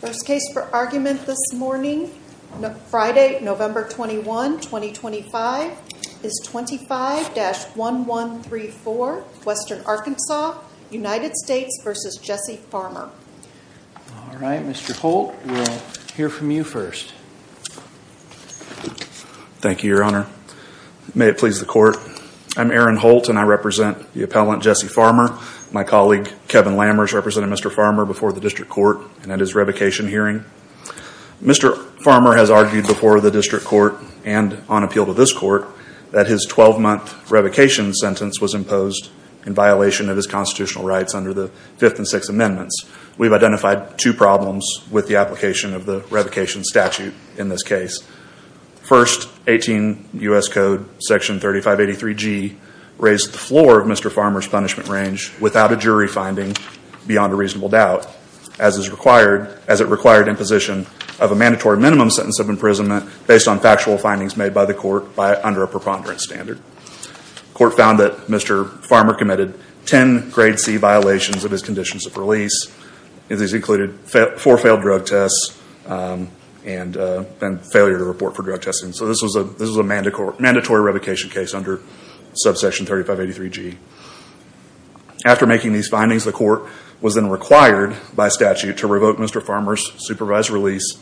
First case for argument this morning, Friday, November 21, 2025, is 25-1134, Western Arkansas, United States v. Jessie Farmer. All right, Mr. Holt, we'll hear from you first. Thank you, Your Honor. May it please the court. I'm Aaron Holt and I represent the appellant, Jessie Farmer. My colleague, Kevin Lammers, represented Mr. Farmer before the district court and at his revocation hearing. Mr. Farmer has argued before the district court and on appeal to this court that his 12-month revocation sentence was imposed in violation of his constitutional rights under the Fifth and Sixth Amendments. We've identified two problems with the application of the revocation statute in this case. First, 18 U.S. Code Section 3583G raised the floor of Mr. Farmer's punishment range without a jury finding beyond a reasonable doubt, as is required, as it required in position of a mandatory minimum sentence of imprisonment based on factual findings made by the court under a preponderance standard. The court found that Mr. Farmer committed 10 grade C violations of his conditions of release. These included four failed drug tests and failure to report for drug testing. So this was a mandatory revocation case under Subsection 3583G. After making these findings, the court was then required by statute to revoke Mr. Farmer's supervised release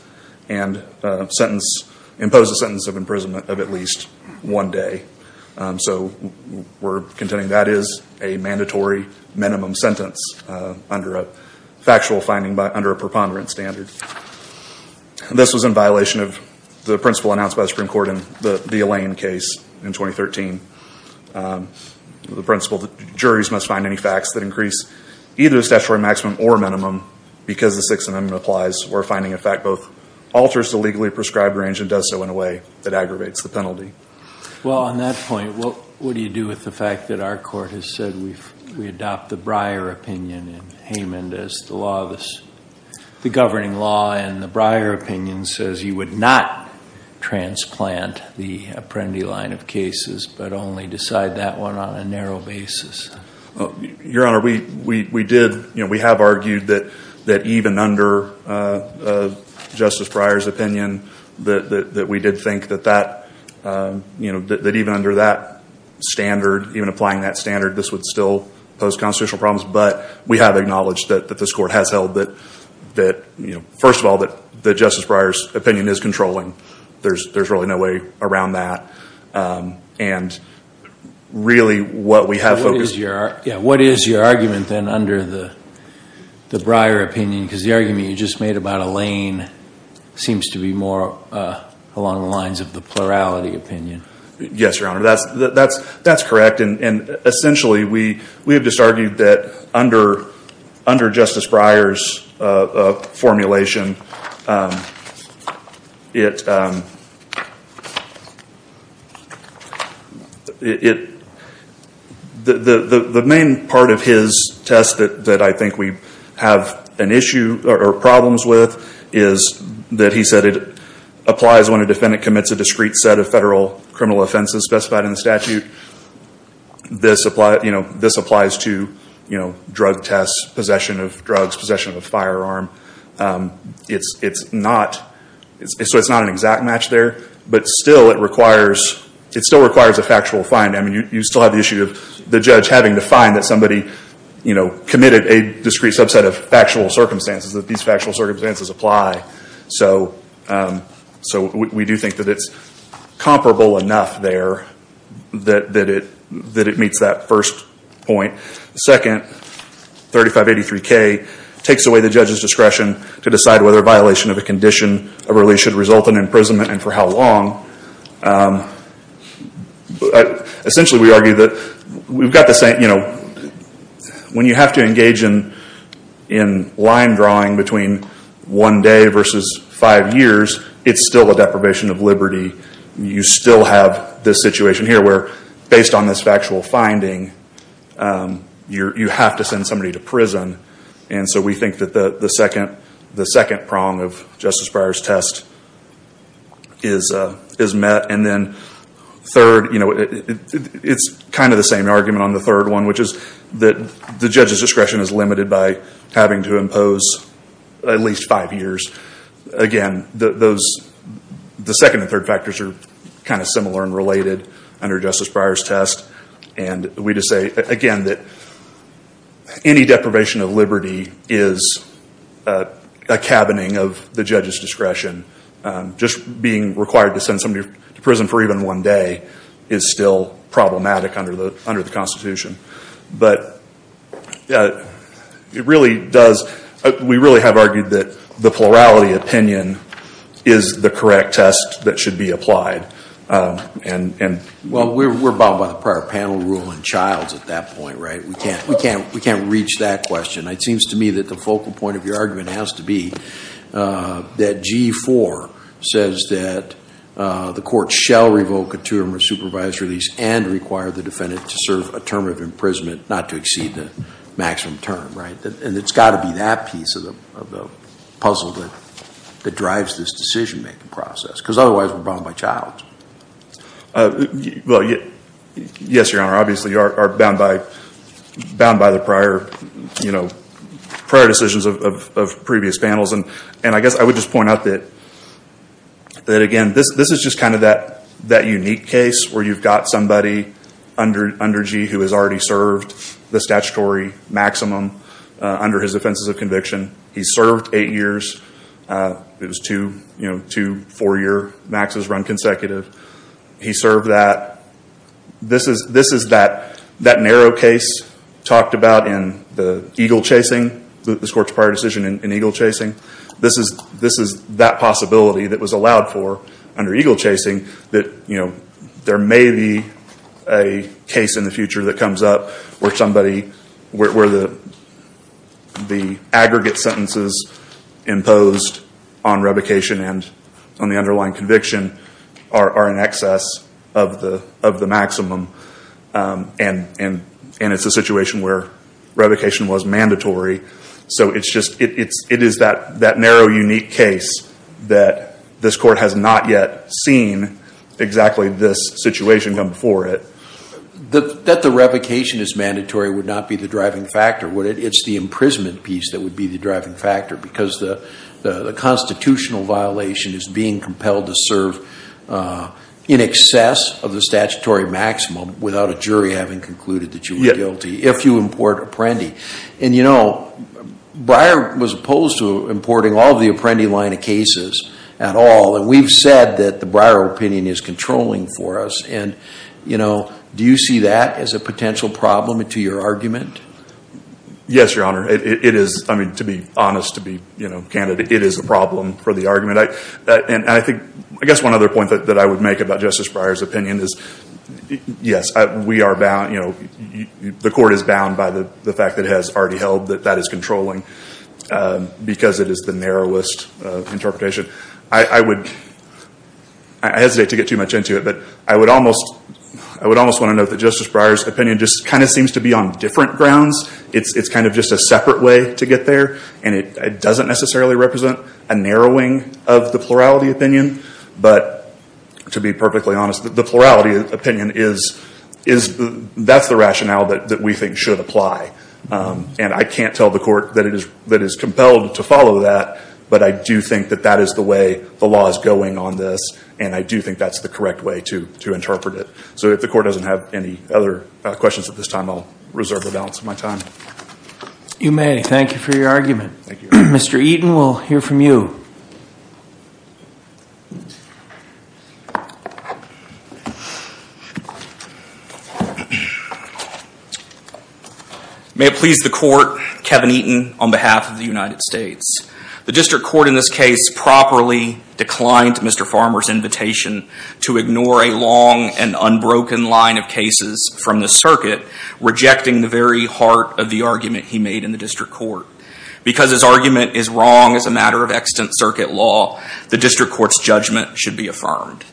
and impose a sentence of imprisonment of at least one day. So we're contending that is a mandatory minimum sentence under a factual finding under a preponderance standard. This was in violation of the principle announced by the Supreme Court in the Alain case in 2013, the principle that juries must find any facts that increase either the statutory maximum or minimum because the Sixth Amendment applies or finding a fact both alters the legally prescribed range and does so in a way that aggravates the penalty. Well, on that point, what do you do with the fact that our court has said we adopt the Breyer opinion in Haymond as the law, the governing law, and the Breyer opinion says you would not transplant the Apprendi line of cases but only decide that one on a narrow basis? Your Honor, we did, we have argued that even under Justice Breyer's opinion that we did think that even under that standard, even applying that standard, this would still pose constitutional problems. But we have acknowledged that this court has held that, first of all, that the Justice Breyer's opinion is controlling. There's really no way around that. And really what we have focused... What is your argument then under the Breyer opinion? Because the argument you just made about Alain seems to be more along the lines of the plurality opinion. Yes, Your Honor, that's correct. And essentially, we have just argued that under Justice Breyer's formulation, the main part of his test that I think we have an issue or problems with is that he said it applies when a defendant commits a discrete set of federal criminal offenses specified in the statute. This applies to drug tests, possession of drugs, possession of a firearm. It's not an exact match there, but still it requires a factual finding. You still have the issue of the judge having to find that somebody committed a discrete subset of factual circumstances, that these factual circumstances apply. So we do think that it's comparable enough there that it meets that first point. The second, 3583K, takes away the judge's discretion to decide whether a violation of a condition of release should result in imprisonment and for how long. Essentially, we argue that we've got the same... When you have to engage in line drawing between one day versus five years, it's still a deprivation of liberty. You still have this situation here where based on this factual finding, you have to send somebody to prison. So we think that the second prong of Justice Breyer's test is met. It's kind of the same argument on the third one, which is that the judge's discretion is limited by having to impose at least five years. Again, those... The second and third factors are kind of similar and related under Justice Breyer's test. And we just say, again, that any deprivation of liberty is a cabining of the judge's discretion. Just being required to send somebody to prison for even one day is still problematic under the Constitution. But it really does... We really have argued that the plurality opinion is the correct test that should be applied. Well, we're bound by the prior panel rule in Childs at that point, right? We can't reach that question. It seems to me that the focal point of your argument has to be that G4 says that the court shall revoke a two-term or supervised release and require the defendant to serve a term of imprisonment not to exceed the maximum term, right? And it's got to be that piece of the puzzle that drives this decision-making process. Because otherwise we're bound by Childs. Well, yes, Your Honor. Obviously, you are bound by the prior decisions of previous panels. And I guess I would just point out that, again, this is just kind of that unique case where you've got somebody under G who has already served the statutory maximum under his offenses of conviction. He served eight years. It was two four-year maxes run consecutive. He served that. This is that narrow case talked about in the eagle chasing, this Court's prior decision in eagle chasing. This is that possibility that was allowed for under eagle chasing that, you know, there may be a case in the future that comes up where somebody... where the aggregate sentences imposed on revocation and on the underlying conviction are in excess of the maximum. And it's a situation where revocation was mandatory. So it's just... it is that narrow, unique case that this Court has not yet seen exactly this situation come before it. That the revocation is mandatory would not be the driving factor, would it? It's the imprisonment piece that would be the driving factor because the constitutional violation is being compelled to serve in excess of the statutory maximum without a jury having concluded that you were guilty if you import Apprendi. And, you know, Breyer was opposed to importing all of the Apprendi line of cases at all. And we've said that the Breyer opinion is controlling for us. And, you know, do you see that as a potential problem to your argument? Yes, Your Honor. It is, I mean, to be honest, to be, you know, candid, it is a problem for the argument. And I think... I guess one other point that I would make about Justice Breyer's opinion is, yes, we are bound, you know, the Court is bound by the fact that it has already held that that is controlling because it is the narrowest interpretation. I would... I hesitate to get too much into it, but I would almost... I would almost want to note that Justice Breyer's opinion just kind of seems to be on different grounds. It's kind of just a separate way to get there. And it doesn't necessarily represent a narrowing of the plurality opinion. But to be perfectly honest, the plurality opinion is... that's the rationale that we think should apply. And I can't tell the Court that it is compelled to follow that. But I do think that that is the way the law is going on this. And I do think that's the correct way to interpret it. So if the Court doesn't have any other questions at this time, I'll reserve the balance of my time. You may. Thank you for your argument. Mr. Eaton, we'll hear from you. May it please the Court, Kevin Eaton on behalf of the United States. The District Court in this case properly declined Mr. Farmer's invitation to ignore a long and unbroken line of cases from the circuit, rejecting the very heart of the argument he made in the District Court. Because his argument is wrong as a matter of extant circuit law, the District Court's judgment should be affirmed.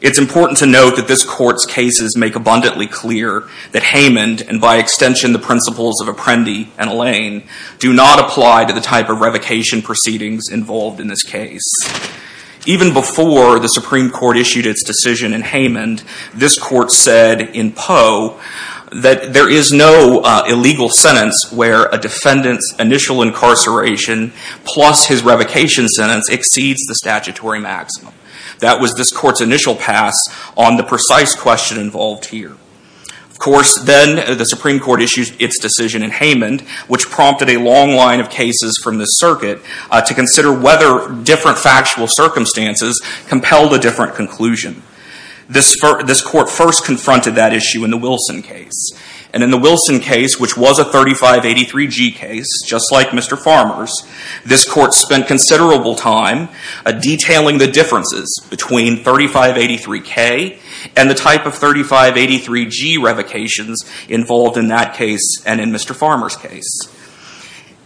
It's important to note that this Court's cases make abundantly clear that Haymond, and by extension the principles of Apprendi and Lane, do not apply to the type of revocation proceedings involved in this case. Even before the Supreme Court issued its decision in Haymond, this Court said in Poe that there is no illegal sentence where a defendant's initial incarceration plus his revocation sentence exceeds the statutory maximum. That was this Court's initial pass on the precise question involved here. Of course, then the Supreme Court issued its decision in Haymond, which prompted a long line of cases from the circuit to consider whether different factual circumstances compelled a different conclusion. This Court first confronted that issue in the Wilson case. And in the Wilson case, which was a 3583G case, just like Mr. Farmer's, this Court spent considerable time detailing the differences between 3583K and the type of 3583G revocations involved in that case and in Mr. Farmer's case.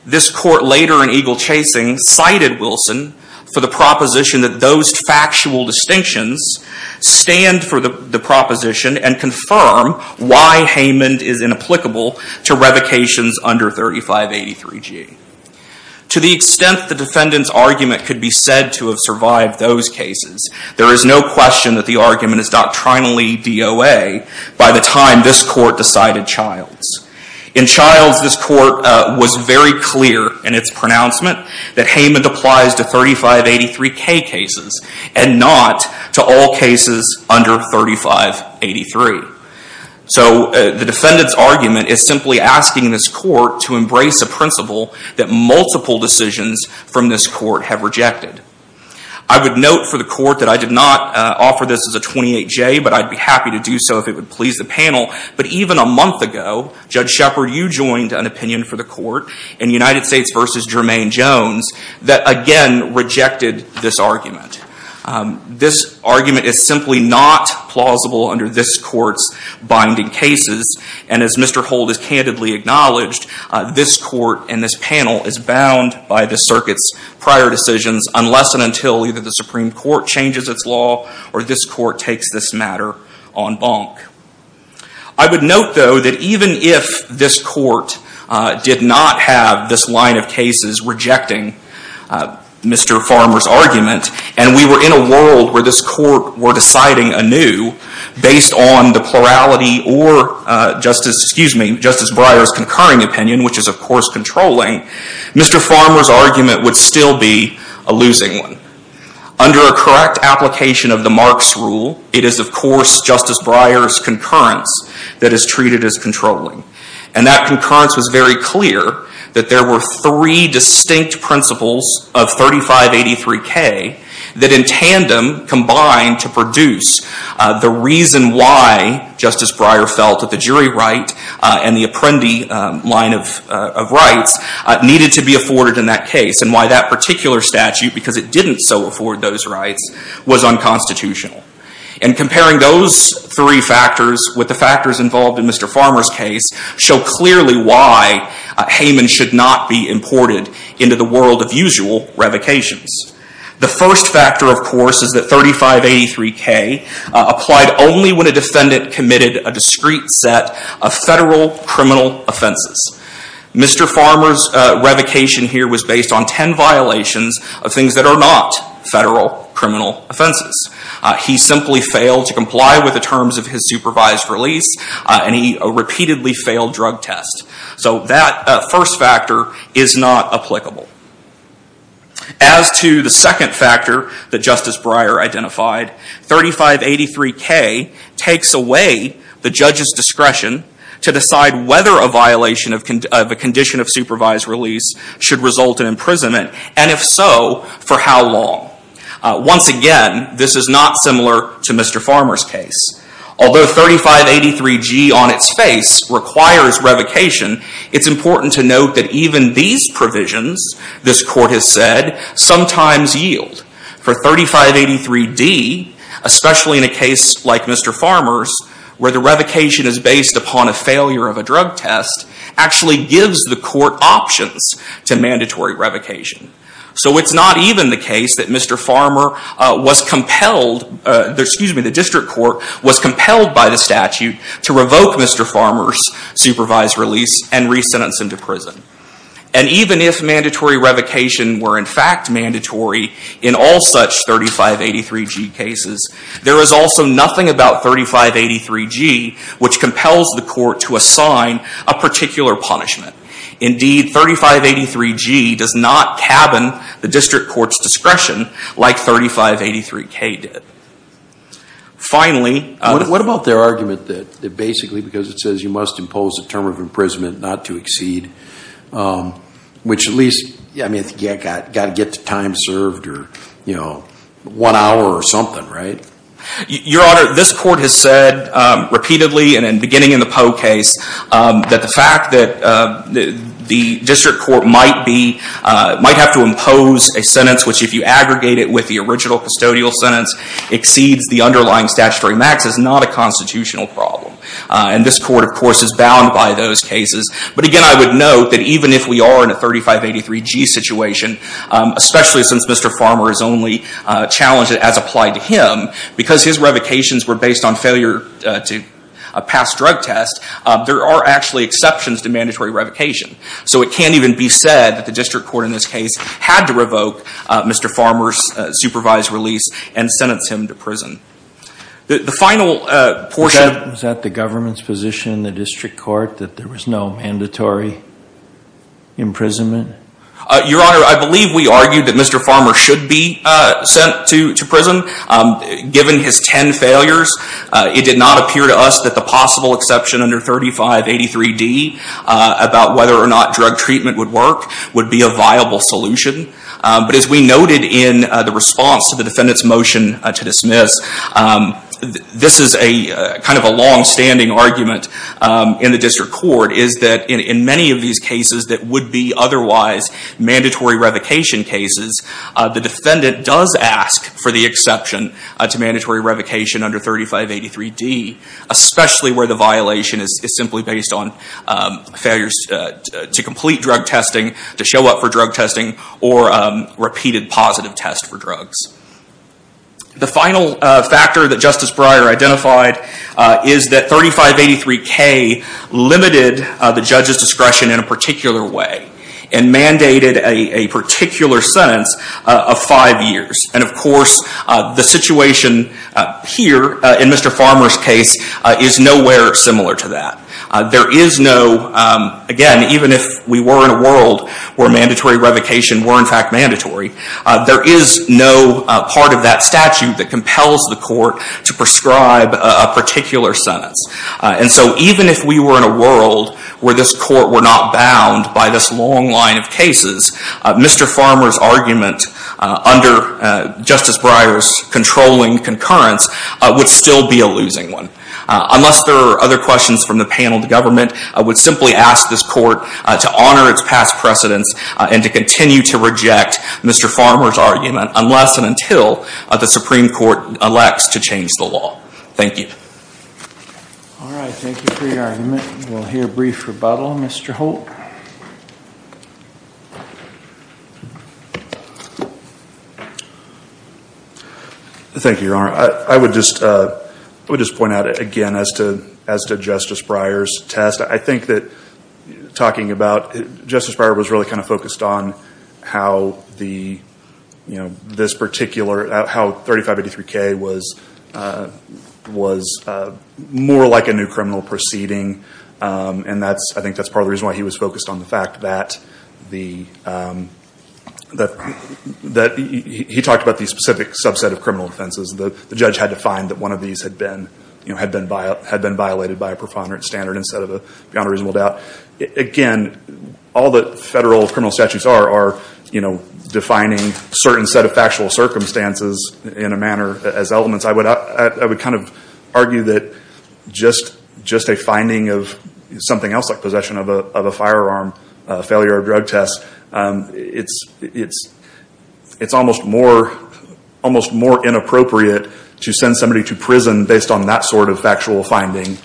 This Court later in Eagle Chasing cited Wilson for the proposition that those factual distinctions stand for the proposition and confirm why Haymond is inapplicable to revocations under 3583G. To the extent the defendant's argument could be said to have survived those cases, there is no question that the argument is doctrinally DOA by the time this Court decided Childs. In Childs, this Court was very clear in its pronouncement that Haymond applies to 3583K cases and not to all cases under 3583. So the defendant's argument is simply asking this Court to embrace a principle that multiple decisions from this Court have rejected. I would note for the Court that I did not offer this as a 28J, but I'd be happy to do so if it would please the panel. But even a month ago, Judge Shepard, you joined an opinion for the Court in United States v. Jermaine Jones that again rejected this argument. This argument is simply not plausible under this Court's binding cases. And as Mr. Hold has candidly acknowledged, this Court and this panel is bound by the Circuit's prior decisions, unless and until either the Supreme Court changes its law or this Court takes this matter en banc. I would note, though, that even if this Court did not have this line of cases rejecting Mr. Farmer's argument, and we were in a world where this Court were deciding anew based on the plurality or Justice Breyer's concurring opinion, which is of course controlling, Mr. Farmer's argument would still be a losing one. Under a correct application of the Marks Rule, it is of course Justice Breyer's concurrence that is treated as controlling. And that concurrence was very clear that there were three distinct principles of 3583K that in tandem combined to produce the reason why Justice Breyer felt that the jury right and the Apprendi line of rights needed to be afforded in that case and why that particular statute, because it didn't so afford those rights, was unconstitutional. And comparing those three factors with the factors involved in Mr. Farmer's case show clearly why Hayman should not be imported into the world of usual revocations. The first factor, of course, is that 3583K applied only when a defendant committed a discrete set of federal criminal offenses. Mr. Farmer's revocation here was based on ten violations of things that are not federal criminal offenses. He simply failed to comply with the terms of his supervised release and he repeatedly failed drug tests. So that first factor is not applicable. As to the second factor that Justice Breyer identified, 3583K takes away the judge's discretion to decide whether a violation of a condition of supervised release should result in imprisonment and if so, for how long. Once again, this is not similar to Mr. Farmer's case. Although 3583G on its face requires revocation, it's important to note that even these provisions, this court has said, sometimes yield. For 3583D, especially in a case like Mr. Farmer's, where the revocation is based upon a failure of a drug test, actually gives the court options to mandatory revocation. So it's not even the case that Mr. Farmer was compelled, excuse me, the district court was compelled by the statute to revoke Mr. Farmer's supervised release and re-sentence him to prison. And even if mandatory revocation were in fact mandatory in all such 3583G cases, there is also nothing about 3583G which compels the court to assign a particular punishment. Indeed, 3583G does not cabin the district court's discretion like 3583K did. Finally... What about their argument that basically because it says you must impose a term of imprisonment not to exceed, which at least, I mean, you've got to get the time served or, you know, one hour or something, right? Your Honor, this court has said repeatedly and beginning in the Poe case that the fact that the district court might be, might have to impose a sentence which if you aggregate it with the original custodial sentence exceeds the underlying statutory max is not a constitutional problem. And this court, of course, is bound by those cases. But again, I would note that even if we are in a 3583G situation, especially since Mr. Farmer is only challenged as applied to him, because his revocations were based on failure to pass drug test, there are actually exceptions to mandatory revocation. So it can't even be said that the district court in this case had to revoke Mr. Farmer's supervised release and sentence him to prison. The final portion... Is that the government's position in the district court that there was no mandatory imprisonment? Your Honor, I believe we argued that Mr. Farmer should be sent to prison. Given his ten failures, it did not appear to us that the possible exception under 3583D about whether or not drug treatment would work would be a viable solution. But as we noted in the response to the defendant's motion to dismiss, this is a kind of a longstanding argument in the district court is that in many of these cases that would be otherwise mandatory revocation cases, the defendant does ask for the exception to mandatory revocation under 3583D, especially where the violation is simply based on failures to complete drug testing, to show up for drug testing, or repeated positive tests for drugs. The final factor that Justice Breyer identified is that 3583K limited the judge's discretion in a particular way and mandated a particular sentence of five years. And of course, the situation here in Mr. Farmer's case is nowhere similar to that. There is no, again, even if we were in a world where mandatory revocation were in fact mandatory, there is no part of that statute that compels the court to prescribe a particular sentence. And so even if we were in a world where this court were not bound by this long line of cases, Mr. Farmer's argument under Justice Breyer's controlling concurrence would still be a losing one. Unless there are other questions from the panel, the government would simply ask this court to honor its past precedence and to continue to reject Mr. Farmer's argument unless and until the Supreme Court elects to change the law. Thank you. All right. Thank you for your argument. We'll hear a brief rebuttal. Mr. Holt. Thank you, Your Honor. I would just point out again as to Justice Breyer's test, I think that talking about Justice Breyer was really kind of focused on how this particular, how 3583K was more like a new criminal proceeding. And I think that's part of the reason why he was focused on the fact that he talked about the specific subset of criminal offenses. The judge had to find that one of these had been violated by a profanity standard instead of beyond a reasonable doubt. Again, all the federal criminal statutes are defining certain set of factual circumstances in a manner as elements. I would kind of argue that just a finding of something else like possession of a firearm, failure of a drug test, it's almost more inappropriate to send somebody to prison based on that sort of factual finding,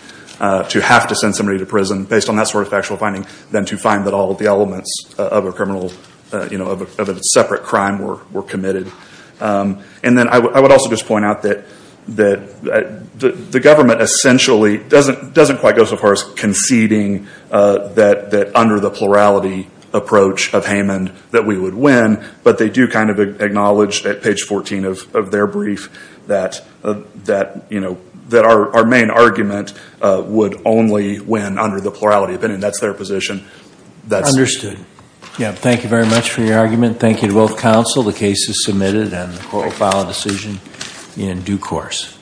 to have to send somebody to prison based on that sort of factual finding than to find that all of the elements of a criminal, of a separate crime were committed. And then I would also just point out that the government essentially doesn't quite go so far as conceding that under the plurality approach of Haymond that we would win, but they do kind of acknowledge at page 14 of their brief that our main argument would only win under the plurality opinion. That's their position. Understood. Yeah, thank you very much for your argument. Thank you to both counsel. The case is submitted and the court will file a decision in due course.